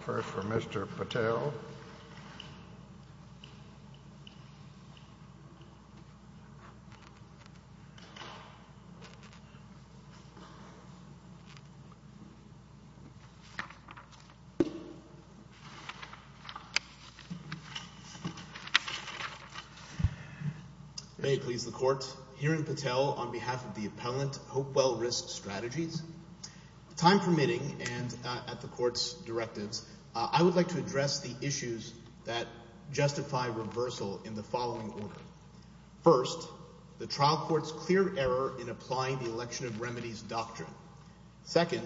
first for Mr. Patel. May it please the Court, hearing Patel on behalf of the appellant, Hopewell Risk Strategies. Time permitting and at the court's directives, I would like to address the issues that justify reversal in the following order. First, the trial court's clear error in applying the election of remedies doctrine. Second,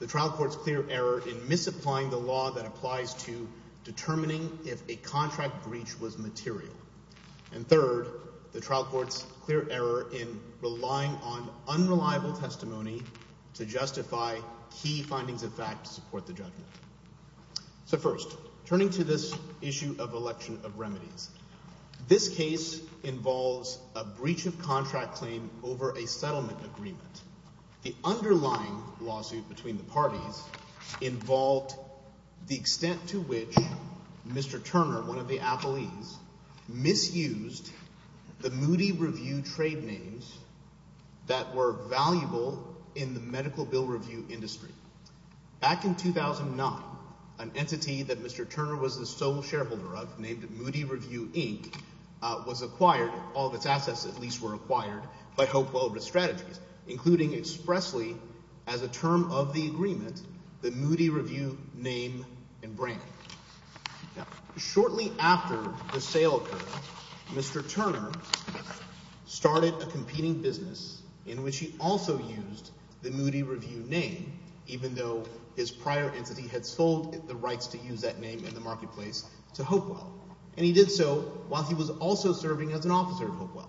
the trial court's clear error in misapplying the law that applies to determining if a contract breach was material. And third, the trial court's clear error in relying on unreliable testimony to justify key findings of fact to support the judgment. So first, turning to this issue of election of remedies, this case involves a breach of contract claim over a settlement agreement. The underlying lawsuit between the parties involved the extent to which Mr. Turner, one of the appellees, misused the Moody Review trade names that were valuable in the medical bill review industry. Back in 2009, an entity that Mr. Turner was the sole shareholder of named Moody Review Inc. was acquired, all of its assets at least were acquired, by Hopewell Risk Strategies, including expressly as a term of the agreement the Moody Review name and brand. Now, shortly after the sale occurred, Mr. Turner started a competing business in which he also used the Moody Review name even though his prior entity had sold the rights to use that name in the marketplace to Hopewell. And he did so while he was also serving as an officer at Hopewell.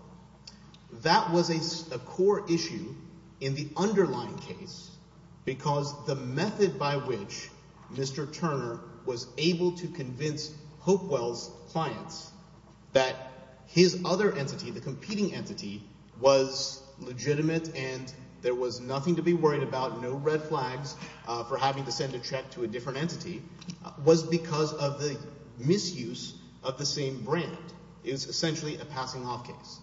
That was a core issue in the underlying case because the method by which Mr. Turner was able to convince Hopewell's clients that his other entity, the competing entity, was legitimate and there was nothing to be worried about, no red flags for having to send a check to a different entity, was because of the misuse of the same brand. It was essentially a passing off case.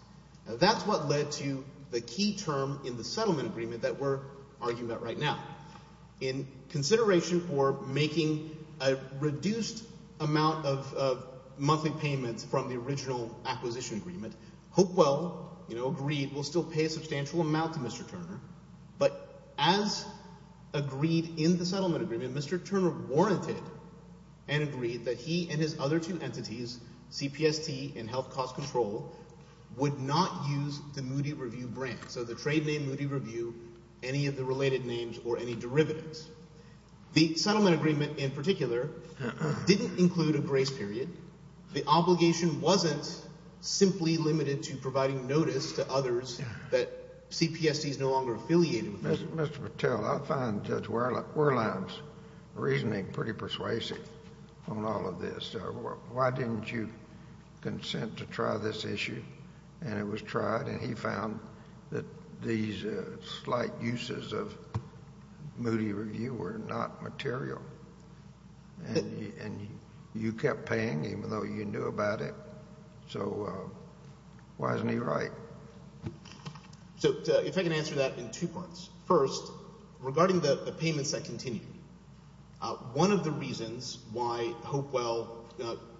That's what led to the key term in the settlement agreement that we're arguing about right now. In consideration for making a reduced amount of monthly payments from the original acquisition agreement, Hopewell agreed we'll still pay a substantial amount to Mr. Turner. But as agreed in the settlement agreement, Mr. Turner warranted and agreed that he and his other two entities, CPST and Health Cost Control, would not use the Moody Review brand, so the trade name Moody Review, any of the related names or any derivatives. The settlement agreement in particular didn't include a grace period. The obligation wasn't simply limited to providing notice to others that CPST is no longer affiliated with them. Mr. Patel, I find Judge Wehrlein's reasoning pretty persuasive on all of this. Why didn't you consent to try this issue? And it was tried, and he found that these slight uses of Moody Review were not material, and you kept paying even though you knew about it. So why isn't he right? So if I can answer that in two parts. First, regarding the payments that continue, one of the reasons why Hopewell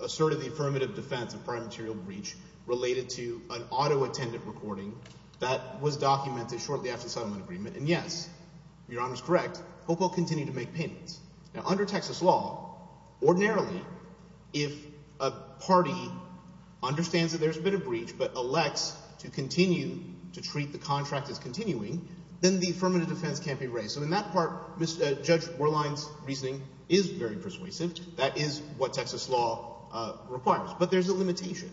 asserted the affirmative defense of prior material breach related to an auto attendant recording that was documented shortly after the settlement agreement, and yes, Your Honor is correct, Hopewell continued to make payments. Now, under Texas law, ordinarily if a party understands that there's been a breach but elects to continue to treat the contract as continuing, then the affirmative defense can't be raised. So in that part, Judge Wehrlein's reasoning is very persuasive. That is what Texas law requires. But there's a limitation,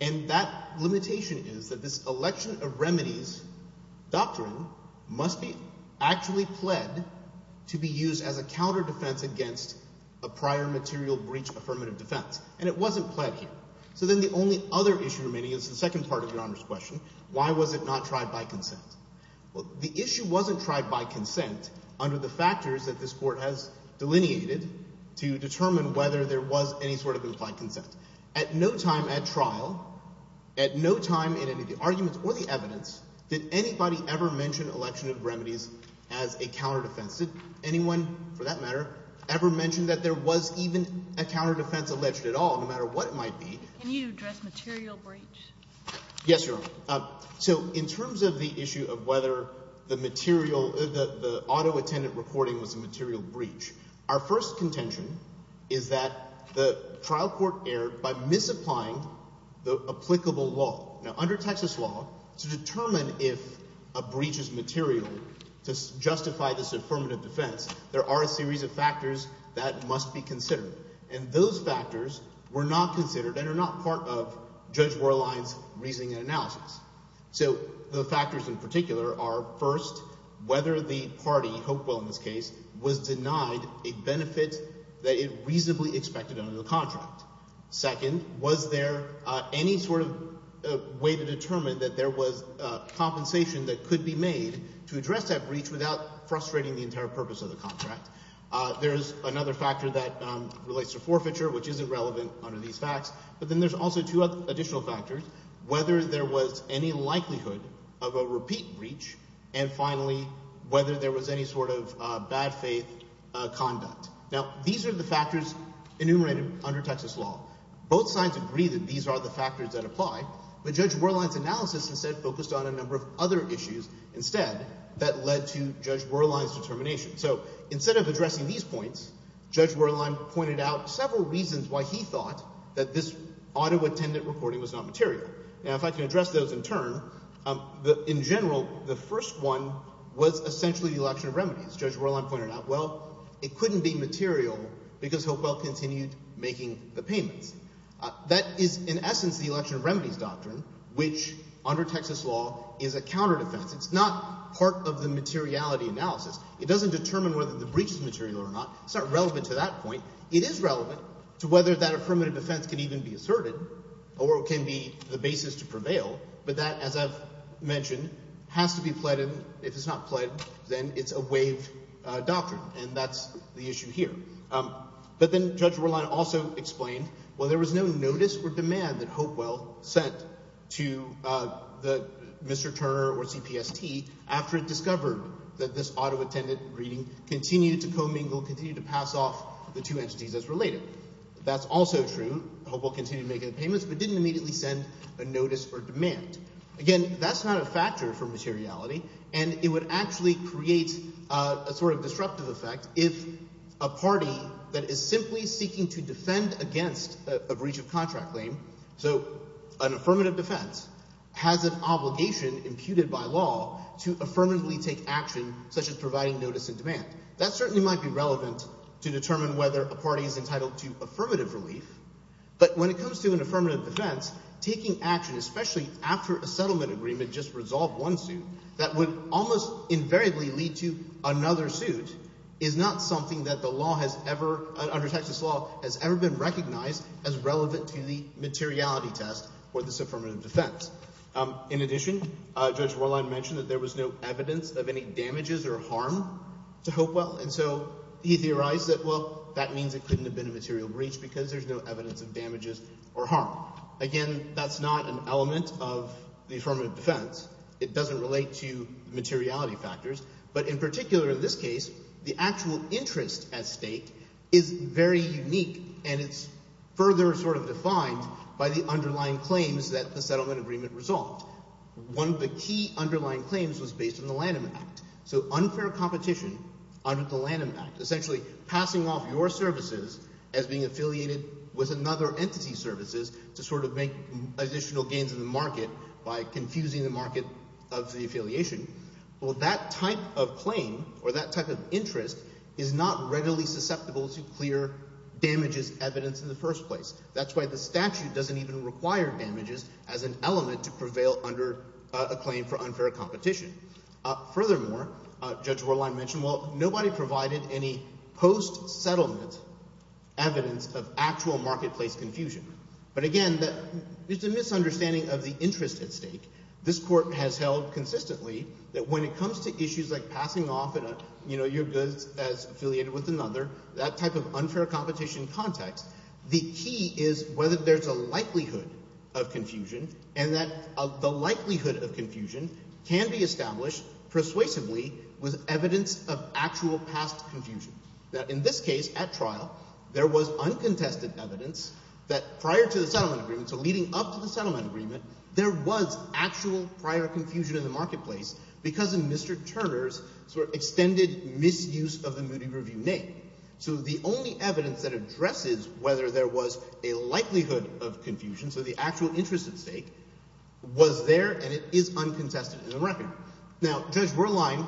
and that limitation is that this election of remedies doctrine must be actually pled to be used as a counterdefense against a prior material breach affirmative defense. And it wasn't pled here. So then the only other issue remaining is the second part of Your Honor's question. Why was it not tried by consent? Well, the issue wasn't tried by consent under the factors that this court has delineated to determine whether there was any sort of implied consent. At no time at trial, at no time in any of the arguments or the evidence did anybody ever mention election of remedies as a counterdefense. Did anyone, for that matter, ever mention that there was even a counterdefense alleged at all, no matter what it might be? Can you address material breach? Yes, Your Honor. So in terms of the issue of whether the material – the auto attendant reporting was a material breach, our first contention is that the trial court erred by misapplying the applicable law. Now, under Texas law, to determine if a breach is material to justify this affirmative defense, there are a series of factors that must be considered. And those factors were not considered and are not part of Judge Warline's reasoning and analysis. So the factors in particular are, first, whether the party, Hopewell in this case, was denied a benefit that it reasonably expected under the contract. Second, was there any sort of way to determine that there was compensation that could be made to address that breach without frustrating the entire purpose of the contract. There is another factor that relates to forfeiture, which isn't relevant under these facts. But then there's also two additional factors, whether there was any likelihood of a repeat breach, and finally, whether there was any sort of bad faith conduct. Now, these are the factors enumerated under Texas law. Both sides agree that these are the factors that apply, but Judge Warline's analysis instead focused on a number of other issues instead that led to Judge Warline's determination. So instead of addressing these points, Judge Warline pointed out several reasons why he thought that this auto-attendant reporting was not material. Now, if I can address those in turn, in general, the first one was essentially the election of remedies. Judge Warline pointed out, well, it couldn't be material because Hopewell continued making the payments. That is in essence the election of remedies doctrine, which under Texas law is a counterdefense. It's not part of the materiality analysis. It doesn't determine whether the breach is material or not. It's not relevant to that point. It is relevant to whether that affirmative defense can even be asserted or can be the basis to prevail, but that, as I've mentioned, has to be pledged. If it's not pledged, then it's a waived doctrine, and that's the issue here. But then Judge Warline also explained, well, there was no notice or demand that Hopewell sent to Mr. Turner or CPST after it discovered that this auto-attendant reading continued to commingle, continued to pass off the two entities as related. That's also true. Hopewell continued making the payments but didn't immediately send a notice or demand. Again, that's not a factor for materiality, and it would actually create a sort of disruptive effect if a party that is simply seeking to defend against a breach of contract claim, so an affirmative defense, has an obligation imputed by law to affirmatively take action such as providing notice and demand. That certainly might be relevant to determine whether a party is entitled to affirmative relief, but when it comes to an affirmative defense, taking action, especially after a settlement agreement just resolved one suit that would almost invariably lead to another suit, is not something that the law has ever – under Texas law – has ever been recognized as relevant to the materiality test for this affirmative defense. In addition, Judge Warline mentioned that there was no evidence of any damages or harm to Hopewell, and so he theorized that, well, that means it couldn't have been a material breach because there's no evidence of damages or harm. Again, that's not an element of the affirmative defense. It doesn't relate to materiality factors. But in particular in this case, the actual interest at stake is very unique, and it's further sort of defined by the underlying claims that the settlement agreement resolved. One of the key underlying claims was based on the Lanham Act. So unfair competition under the Lanham Act, essentially passing off your services as being affiliated with another entity's services to sort of make additional gains in the market by confusing the market of the affiliation. Well, that type of claim or that type of interest is not readily susceptible to clear damages evidence in the first place. That's why the statute doesn't even require damages as an element to prevail under a claim for unfair competition. Furthermore, Judge Warline mentioned, well, nobody provided any post-settlement evidence of actual marketplace confusion. But again, it's a misunderstanding of the interest at stake. This Court has held consistently that when it comes to issues like passing off your goods as affiliated with another, that type of unfair competition context, the key is whether there's a likelihood of confusion and that the likelihood of confusion can be established persuasively with evidence of actual past confusion. Now, in this case, at trial, there was uncontested evidence that prior to the settlement agreement, so leading up to the settlement agreement, there was actual prior confusion in the marketplace because of Mr. Turner's sort of extended misuse of the Moody Review name. So the only evidence that addresses whether there was a likelihood of confusion, so the actual interest at stake, was there and it is uncontested in the record. Now, Judge Warline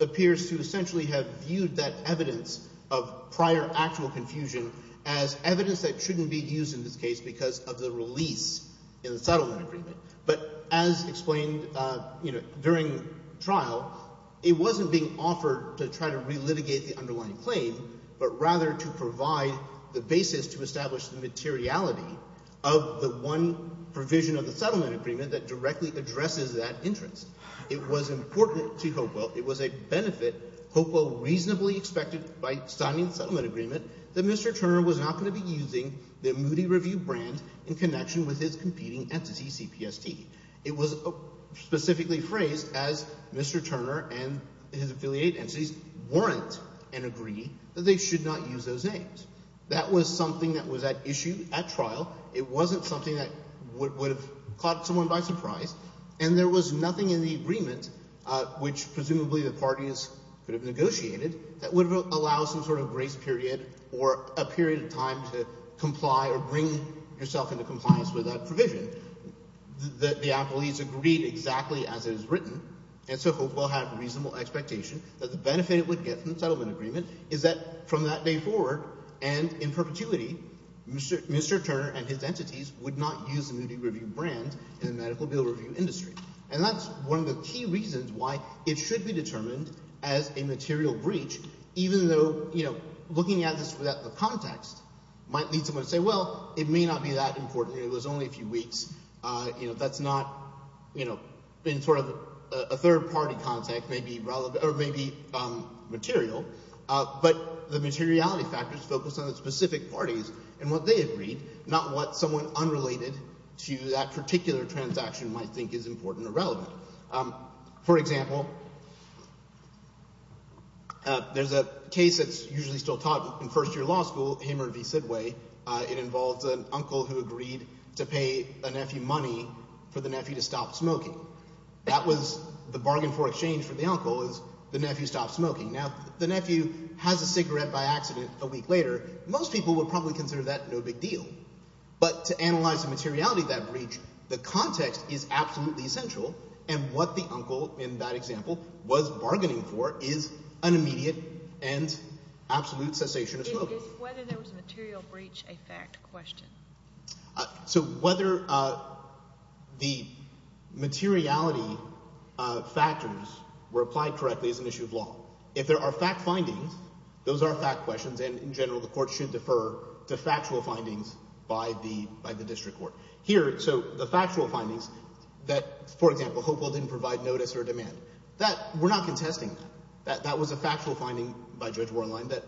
appears to essentially have viewed that evidence of prior actual confusion as evidence that shouldn't be used in this case because of the release in the settlement agreement. But as explained during trial, it wasn't being offered to try to relitigate the underlying claim, but rather to provide the basis to establish the materiality of the one provision of the settlement agreement that directly addresses that interest. It was important to Hopewell, it was a benefit Hopewell reasonably expected by signing the settlement agreement that Mr. Turner was not going to be using the Moody Review brand in connection with his competing entity, CPST. It was specifically phrased as Mr. Turner and his affiliated entities weren't and agree that they should not use those names. That was something that was at issue at trial. It wasn't something that would have caught someone by surprise, and there was nothing in the agreement, which presumably the parties could have negotiated, that would allow some sort of grace period or a period of time to comply or bring yourself into compliance with that provision. The appellees agreed exactly as it was written, and so Hopewell had a reasonable expectation that the benefit it would get from the settlement agreement is that from that day forward and in perpetuity, Mr. Turner and his entities would not use the Moody Review brand in the medical bill review industry. And that's one of the key reasons why it should be determined as a material breach, even though looking at this without the context might lead someone to say, well, it may not be that important, it was only a few weeks. That's not, in sort of a third-party context, maybe material, but the materiality factors focus on the specific parties and what they agreed, not what someone unrelated to that particular transaction might think is important or relevant. For example, there's a case that's usually still taught in first-year law school, Hamer v. Sidway. It involves an uncle who agreed to pay a nephew money for the nephew to stop smoking. That was the bargain for exchange for the uncle is the nephew stops smoking. Now, if the nephew has a cigarette by accident a week later, most people would probably consider that no big deal. But to analyze the materiality of that breach, the context is absolutely essential, and what the uncle in that example was bargaining for is an immediate and absolute cessation of smoking. Is whether there was a material breach a fact question? So whether the materiality factors were applied correctly is an issue of law. If there are fact findings, those are fact questions, and in general the court should defer to factual findings by the district court. Here, so the factual findings that, for example, Hopewell didn't provide notice or demand, we're not contesting that. That was a factual finding by Judge Warline that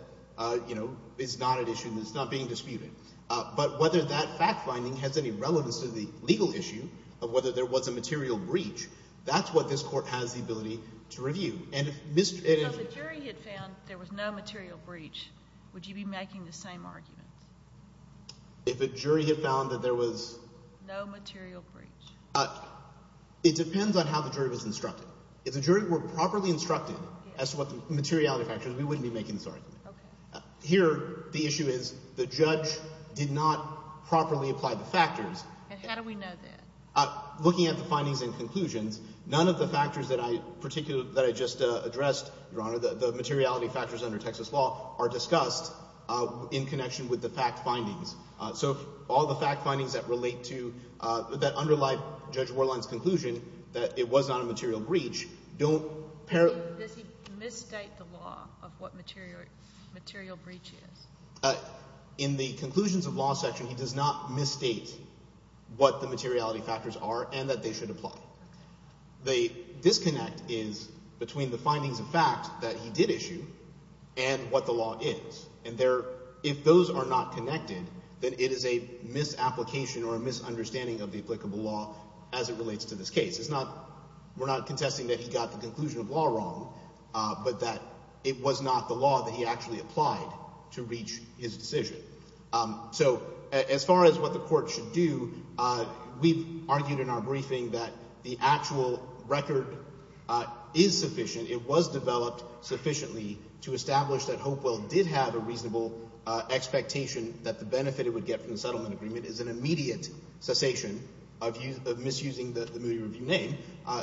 is not an issue and is not being disputed. But whether that fact finding has any relevance to the legal issue of whether there was a material breach, that's what this court has the ability to review. So if the jury had found there was no material breach, would you be making the same arguments? If the jury had found that there was… No material breach. It depends on how the jury was instructed. If the jury were properly instructed as to what the materiality factors, we wouldn't be making this argument. Here, the issue is the judge did not properly apply the factors. And how do we know that? Looking at the findings and conclusions, none of the factors that I particularly – that I just addressed, Your Honor, the materiality factors under Texas law are discussed in connection with the fact findings. So all the fact findings that relate to – that underlie Judge Warline's conclusion that it was not a material breach don't… Does he misstate the law of what material breach is? In the conclusions of law section, he does not misstate what the materiality factors are and that they should apply. The disconnect is between the findings of fact that he did issue and what the law is. And if those are not connected, then it is a misapplication or a misunderstanding of the applicable law as it relates to this case. It's not – we're not contesting that he got the conclusion of law wrong, but that it was not the law that he actually applied to reach his decision. So as far as what the court should do, we've argued in our briefing that the actual record is sufficient. It was developed sufficiently to establish that Hopewell did have a reasonable expectation that the benefit it would get from the settlement agreement is an immediate cessation of misusing the Moody Review name.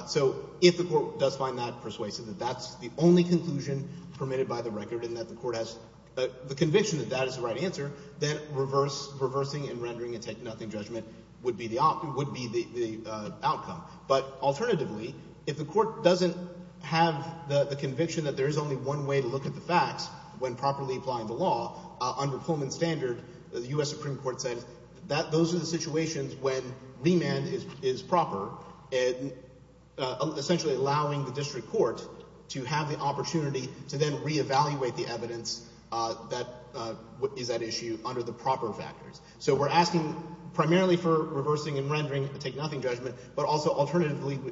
So if the court does find that persuasive, that that's the only conclusion permitted by the record, and that the court has the conviction that that is the right answer, then reversing and rendering a take-nothing judgment would be the outcome. But alternatively, if the court doesn't have the conviction that there is only one way to look at the facts when properly applying the law, under Pullman standard, the U.S. Supreme Court says that those are the situations when remand is proper, essentially allowing the district court to have the opportunity to then reevaluate the evidence that is at issue under the proper factors. So we're asking primarily for reversing and rendering a take-nothing judgment, but also alternatively –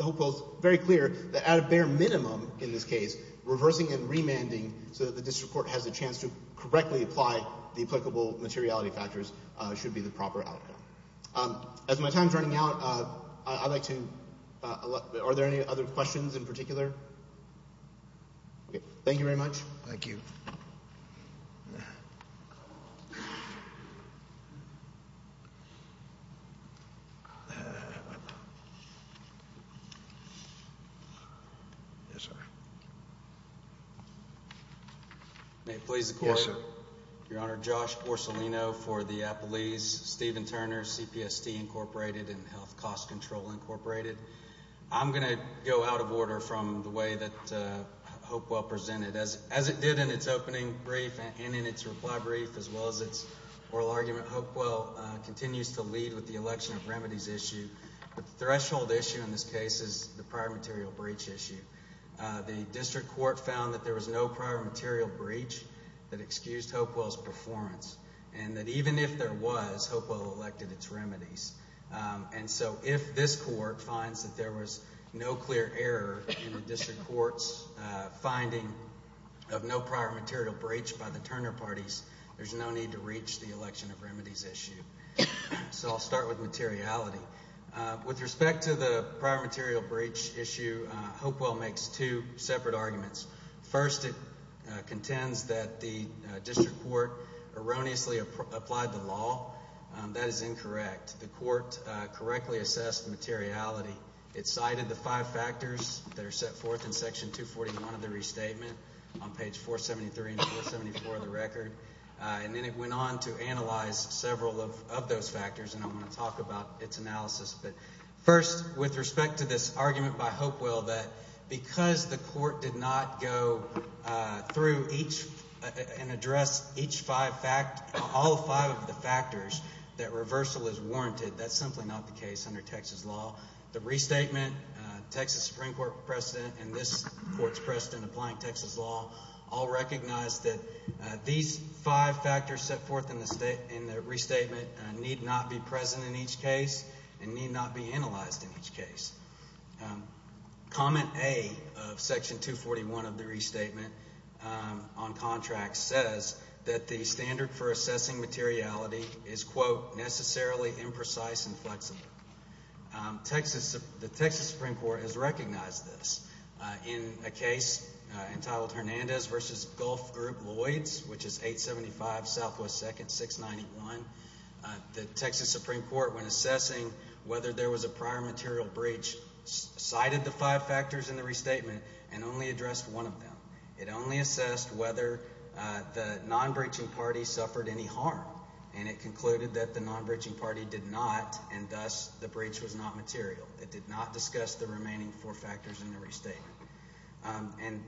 Hopewell is very clear that at a bare minimum in this case, reversing and remanding so that the district court has a chance to correctly apply the applicable materiality factors should be the proper outcome. As my time is running out, I'd like to – are there any other questions in particular? Thank you very much. Thank you. May it please the Court? Yes, sir. Your Honor, Josh Borsolino for the Appellees, Stephen Turner, CPST Incorporated and Health Cost Control Incorporated. I'm going to go out of order from the way that Hopewell presented. As it did in its opening brief and in its reply brief, as well as its oral argument, Hopewell continues to lead with the election of remedies issue. The threshold issue in this case is the prior material breach issue. The district court found that there was no prior material breach that excused Hopewell's performance, and that even if there was, Hopewell elected its remedies. And so if this court finds that there was no clear error in the district court's finding of no prior material breach by the Turner parties, there's no need to reach the election of remedies issue. So I'll start with materiality. With respect to the prior material breach issue, Hopewell makes two separate arguments. First, it contends that the district court erroneously applied the law. That is incorrect. The court correctly assessed the materiality. It cited the five factors that are set forth in Section 241 of the restatement on page 473 and 474 of the record. And then it went on to analyze several of those factors, and I want to talk about its analysis. But first, with respect to this argument by Hopewell that because the court did not go through each and address all five of the factors, that reversal is warranted. That's simply not the case under Texas law. The restatement, Texas Supreme Court precedent, and this court's precedent applying Texas law all recognize that these five factors set forth in the restatement need not be present in each case and need not be analyzed in each case. Comment A of Section 241 of the restatement on contracts says that the standard for assessing materiality is, quote, necessarily imprecise and flexible. The Texas Supreme Court has recognized this. In a case entitled Hernandez v. Gulf Group Lloyds, which is 875 Southwest 2nd, 691, the Texas Supreme Court, when assessing whether there was a prior material breach, cited the five factors in the restatement and only addressed one of them. It only assessed whether the non-breaching party suffered any harm, and it concluded that the non-breaching party did not, and thus the breach was not material. It did not discuss the remaining four factors in the restatement. And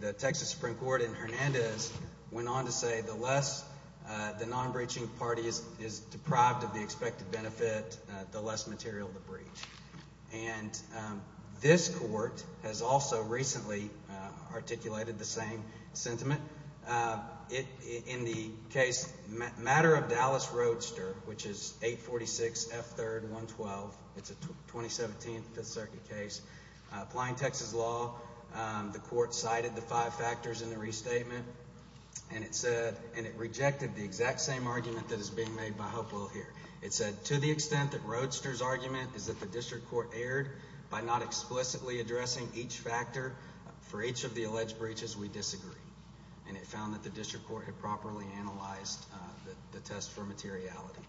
the Texas Supreme Court in Hernandez went on to say the less the non-breaching party is deprived of the expected benefit, the less material the breach. And this court has also recently articulated the same sentiment. In the case Matter of Dallas Roadster, which is 846 F. 3rd, 112, it's a 2017 Fifth Circuit case, applying Texas law, the court cited the five factors in the restatement, and it rejected the exact same argument that is being made by Hopewell here. It said, to the extent that Roadster's argument is that the district court erred by not explicitly addressing each factor for each of the alleged breaches, we disagree. And it found that the district court had properly analyzed the test for materiality.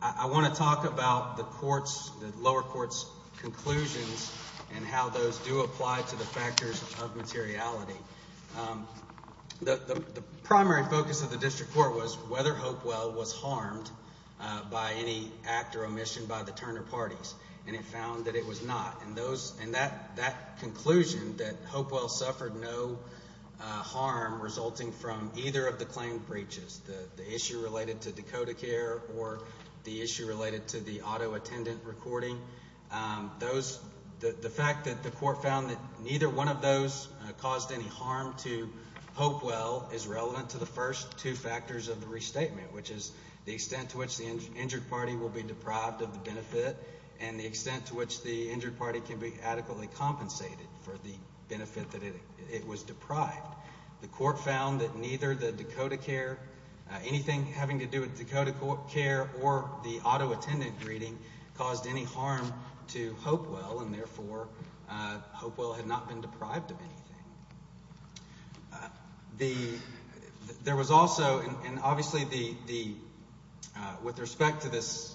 I want to talk about the lower court's conclusions and how those do apply to the factors of materiality. The primary focus of the district court was whether Hopewell was harmed by any act or omission by the Turner parties, and it found that it was not. And that conclusion, that Hopewell suffered no harm resulting from either of the claimed breaches, the issue related to DakotaCare or the issue related to the auto attendant recording, the fact that the court found that neither one of those caused any harm to Hopewell is relevant to the first two factors of the restatement, which is the extent to which the injured party will be deprived of the benefit and the extent to which the injured party can be adequately compensated for the benefit that it was deprived. The court found that neither the DakotaCare, anything having to do with DakotaCare, or the auto attendant greeting caused any harm to Hopewell, and therefore Hopewell had not been deprived of anything. There was also, and obviously with respect to this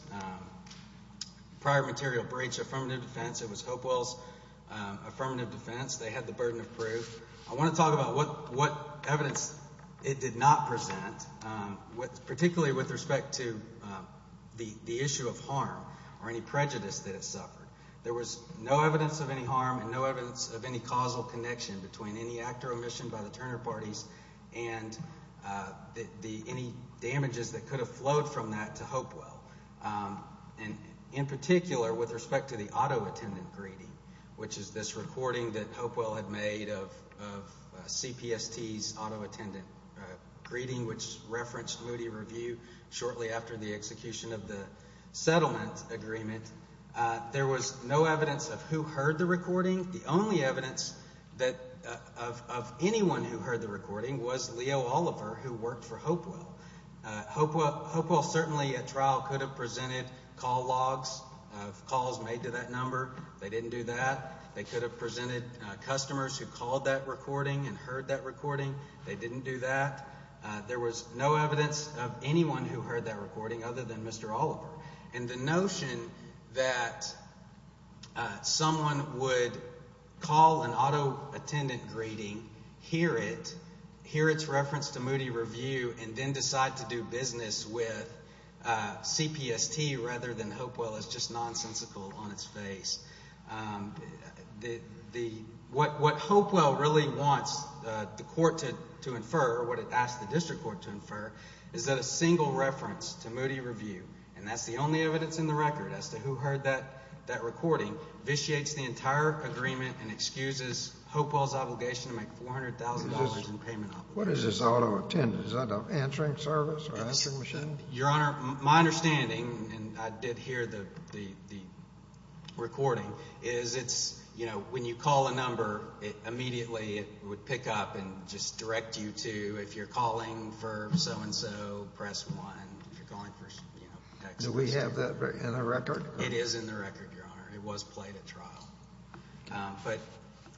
prior material breach affirmative defense, it was Hopewell's affirmative defense. They had the burden of proof. I want to talk about what evidence it did not present, particularly with respect to the issue of harm or any prejudice that it suffered. There was no evidence of any harm and no evidence of any causal connection between any act or omission by the Turner parties and any damages that could have flowed from that to Hopewell. In particular, with respect to the auto attendant greeting, which is this recording that Hopewell had made of CPST's auto attendant greeting, which referenced Moody Review shortly after the execution of the settlement agreement, there was no evidence of who heard the recording. The only evidence of anyone who heard the recording was Leo Oliver, who worked for Hopewell. Hopewell certainly at trial could have presented call logs of calls made to that number. They didn't do that. They could have presented customers who called that recording and heard that recording. They didn't do that. There was no evidence of anyone who heard that recording other than Mr. Oliver. And the notion that someone would call an auto attendant greeting, hear it, hear its reference to Moody Review, and then decide to do business with CPST rather than Hopewell is just nonsensical on its face. What Hopewell really wants the court to infer, what it asks the district court to infer, is that a single reference to Moody Review, and that's the only evidence in the record as to who heard that recording, vitiates the entire agreement and excuses Hopewell's obligation to make $400,000 in payment. What is this auto attendant? Is that an answering service or an answering machine? Your Honor, my understanding, and I did hear the recording, is it's, you know, when you call a number, immediately it would pick up and just direct you to, if you're calling for so-and-so, press 1. If you're calling for, you know, text message 2. Do we have that in the record? It is in the record, Your Honor. It was played at trial. But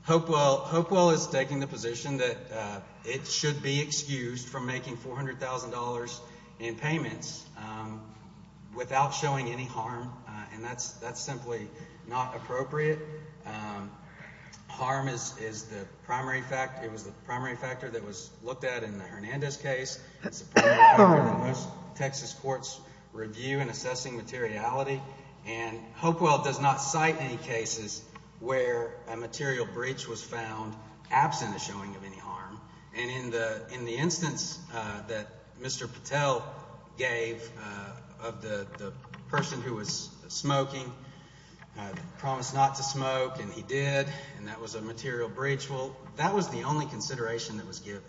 Hopewell is taking the position that it should be excused from making $400,000 in payments without showing any harm, and that's simply not appropriate. Harm is the primary factor that was looked at in the Hernandez case. It's a primary factor that most Texas courts review in assessing materiality, and Hopewell does not cite any cases where a material breach was found absent a showing of any harm. And in the instance that Mr. Patel gave of the person who was smoking, promised not to smoke, and he did, and that was a material breach, well, that was the only consideration that was given.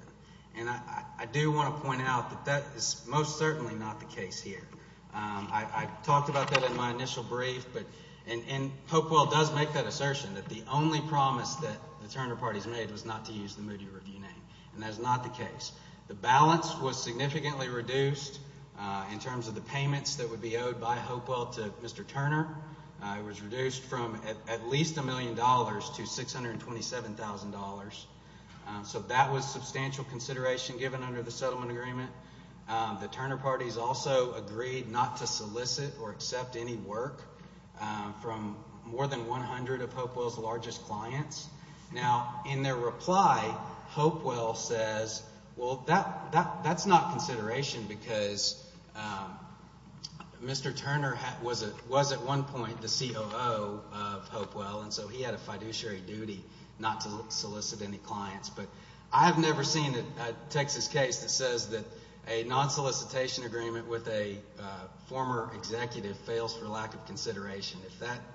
And I do want to point out that that is most certainly not the case here. I talked about that in my initial brief, and Hopewell does make that assertion that the only promise that the Turner Party has made was not to use the Moody Review name, and that is not the case. The balance was significantly reduced in terms of the payments that would be owed by Hopewell to Mr. Turner. It was reduced from at least $1 million to $627,000. So that was substantial consideration given under the settlement agreement. The Turner Party has also agreed not to solicit or accept any work from more than 100 of Hopewell's largest clients. Now, in their reply, Hopewell says, well, that's not consideration because Mr. Turner was at one point the COO of Hopewell, and so he had a fiduciary duty not to solicit any clients. But I have never seen a Texas case that says that a non-solicitation agreement with a former executive fails for lack of consideration.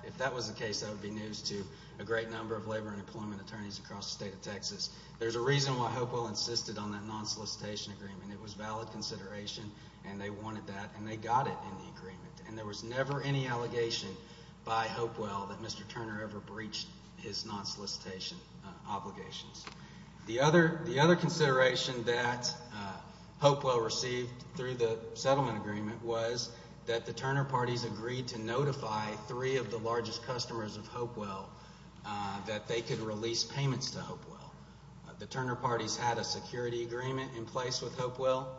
If that was the case, that would be news to a great number of labor and employment attorneys across the state of Texas. There's a reason why Hopewell insisted on that non-solicitation agreement. It was valid consideration, and they wanted that, and they got it in the agreement. And there was never any allegation by Hopewell that Mr. Turner ever breached his non-solicitation obligations. The other consideration that Hopewell received through the settlement agreement was that the Turner Party's agreed to notify three of the largest customers of Hopewell that they could release payments to Hopewell. The Turner Party's had a security agreement in place with Hopewell,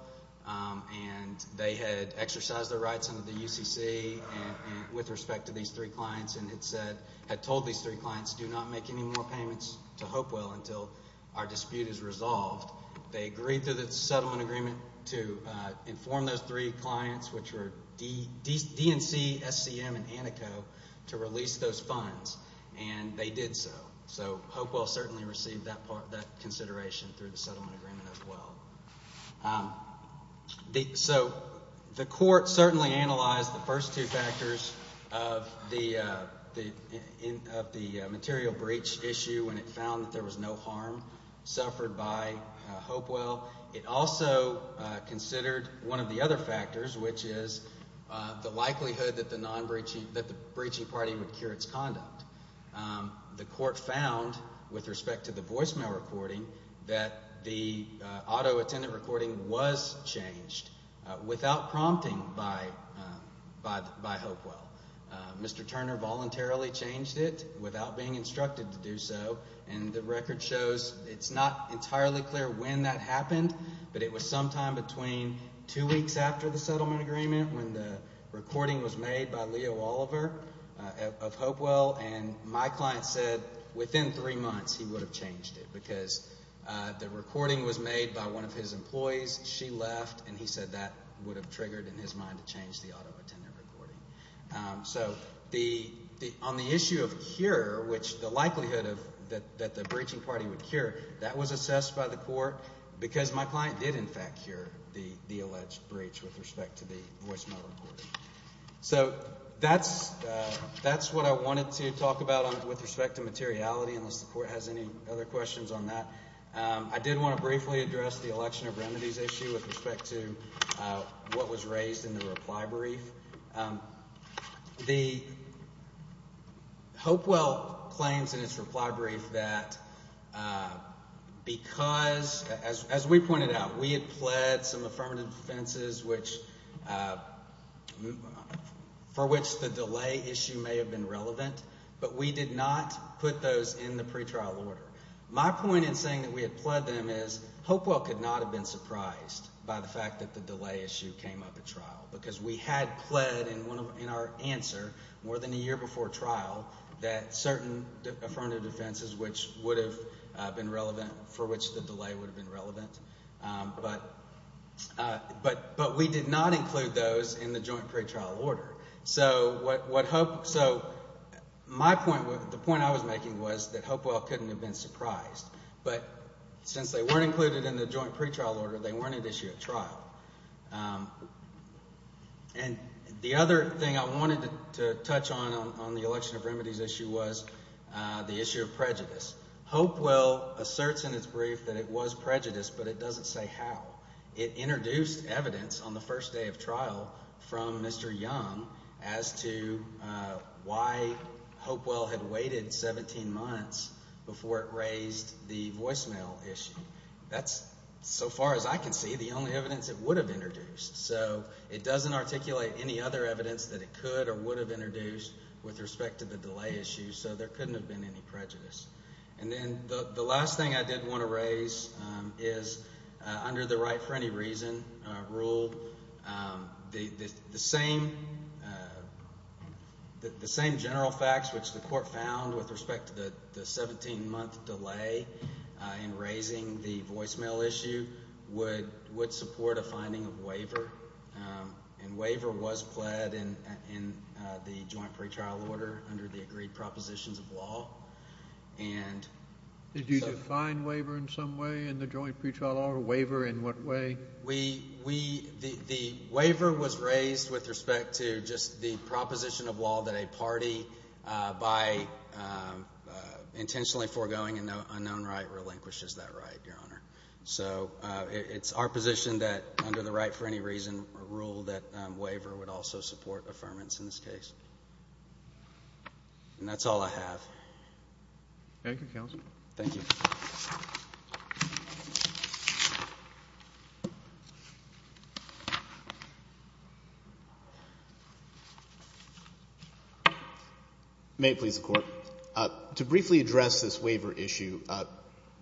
and they had exercised their rights under the UCC with respect to these three clients, and had told these three clients, do not make any more payments to Hopewell until our dispute is resolved. They agreed to the settlement agreement to inform those three clients, which were DNC, SCM, and Antico, to release those funds, and they did so. So Hopewell certainly received that consideration through the settlement agreement as well. So the court certainly analyzed the first two factors of the material breach issue when it found that there was no harm suffered by Hopewell. It also considered one of the other factors, which is the likelihood that the breaching party would cure its conduct. The court found, with respect to the voicemail recording, that the auto attendant recording was changed without prompting by Hopewell. Mr. Turner voluntarily changed it without being instructed to do so, and the record shows it's not entirely clear when that happened, but it was sometime between two weeks after the settlement agreement when the recording was made by Leo Oliver of Hopewell, and my client said within three months he would have changed it because the recording was made by one of his employees, she left, and he said that would have triggered in his mind to change the auto attendant recording. So on the issue of cure, which the likelihood that the breaching party would cure, that was assessed by the court because my client did in fact cure the alleged breach with respect to the voicemail recording. So that's what I wanted to talk about with respect to materiality, unless the court has any other questions on that. I did want to briefly address the election of remedies issue with respect to what was raised in the reply brief. The Hopewell claims in its reply brief that because, as we pointed out, we had pled some affirmative defenses for which the delay issue may have been relevant, but we did not put those in the pretrial order. My point in saying that we had pled them is Hopewell could not have been surprised by the fact that the delay issue came up at trial, because we had pled in our answer more than a year before trial that certain affirmative defenses for which the delay would have been relevant, but we did not include those in the joint pretrial order. So the point I was making was that Hopewell couldn't have been surprised, but since they weren't included in the joint pretrial order, they weren't at issue at trial. And the other thing I wanted to touch on on the election of remedies issue was the issue of prejudice. Hopewell asserts in its brief that it was prejudiced, but it doesn't say how. It introduced evidence on the first day of trial from Mr. Young as to why Hopewell had waited 17 months before it raised the voicemail issue. That's, so far as I can see, the only evidence it would have introduced. So it doesn't articulate any other evidence that it could or would have introduced with respect to the delay issue, so there couldn't have been any prejudice. And then the last thing I did want to raise is under the right for any reason rule, the same general facts which the court found with respect to the 17-month delay in raising the voicemail issue would support a finding of waiver, and waiver was pled in the joint pretrial order under the agreed propositions of law. Did you define waiver in some way in the joint pretrial order? Waiver in what way? The waiver was raised with respect to just the proposition of law that a party by intentionally foregoing an unknown right relinquishes that right, Your Honor. So it's our position that under the right for any reason rule that waiver would also support affirmance in this case. And that's all I have. Thank you, counsel. Thank you. May it please the Court. To briefly address this waiver issue,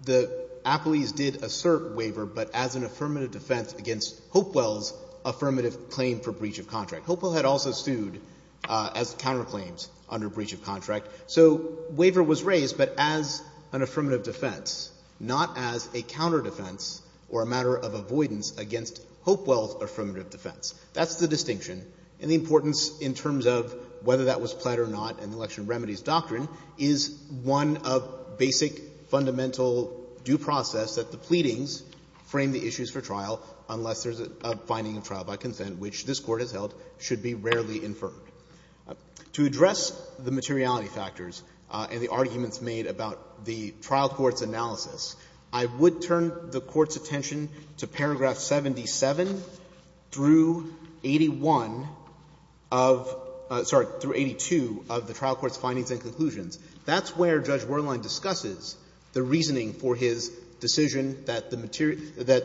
the apolies did assert waiver, but as an affirmative defense against Hopewell's affirmative claim for breach of contract. Hopewell had also sued as counterclaims under breach of contract. So waiver was raised, but as an affirmative defense, not as a counterdefense or a matter of avoidance against Hopewell's affirmative defense. That's the distinction. And the importance in terms of whether that was pled or not in the Election Remedies Doctrine is one of basic fundamental due process that the pleadings frame the issues for trial unless there's a finding of trial by consent, which this Court has held should be rarely inferred. To address the materiality factors and the arguments made about the trial court's analysis, I would turn the Court's attention to paragraph 77 through 81 of the trial court's findings and conclusions. That's where Judge Werlein discusses the reasoning for his decision that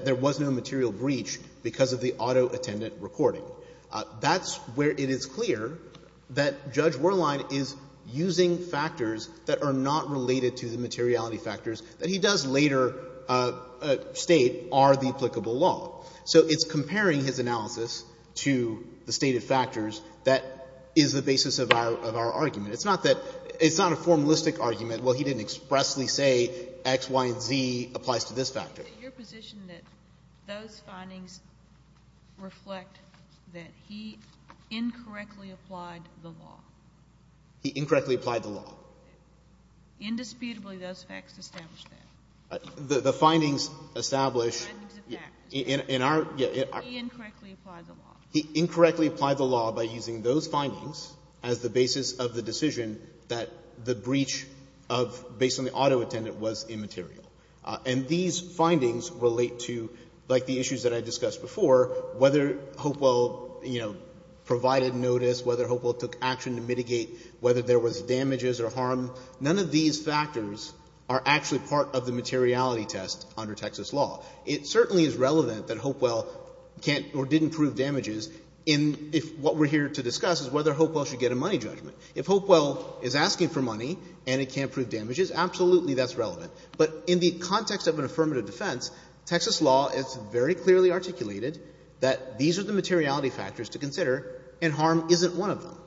there was no material breach because of the auto attendant recording. That's where it is clear that Judge Werlein is using factors that are not related to the materiality factors that he does later state are the applicable law. So it's comparing his analysis to the stated factors that is the basis of our argument It's not that it's not a formalistic argument. Well, he didn't expressly say X, Y, and Z applies to this factor. Your position that those findings reflect that he incorrectly applied the law. He incorrectly applied the law. Indisputably, those facts establish that. The findings establish in our. He incorrectly applied the law. He incorrectly applied the law by using those findings as the basis of the decision that the breach of, based on the auto attendant, was immaterial. And these findings relate to, like the issues that I discussed before, whether Hopewell, you know, provided notice, whether Hopewell took action to mitigate, whether there was damages or harm. None of these factors are actually part of the materiality test under Texas law. It certainly is relevant that Hopewell can't or didn't prove damages if what we're here to discuss is whether Hopewell should get a money judgment. If Hopewell is asking for money and it can't prove damages, absolutely that's relevant. But in the context of an affirmative defense, Texas law, it's very clearly articulated that these are the materiality factors to consider and harm isn't one of them.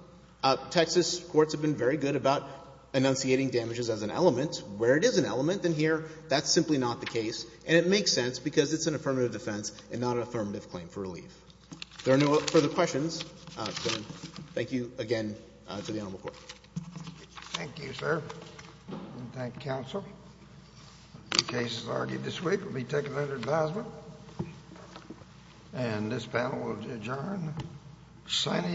Texas courts have been very good about enunciating damages as an element. Where it is an element in here, that's simply not the case. And it makes sense because it's an affirmative defense and not an affirmative claim for relief. If there are no further questions, then thank you again to the Honorable Court. Thank you, sir. Thank you, counsel. The case is argued this week. It will be taken under advisement. And this panel will adjourn. Signing.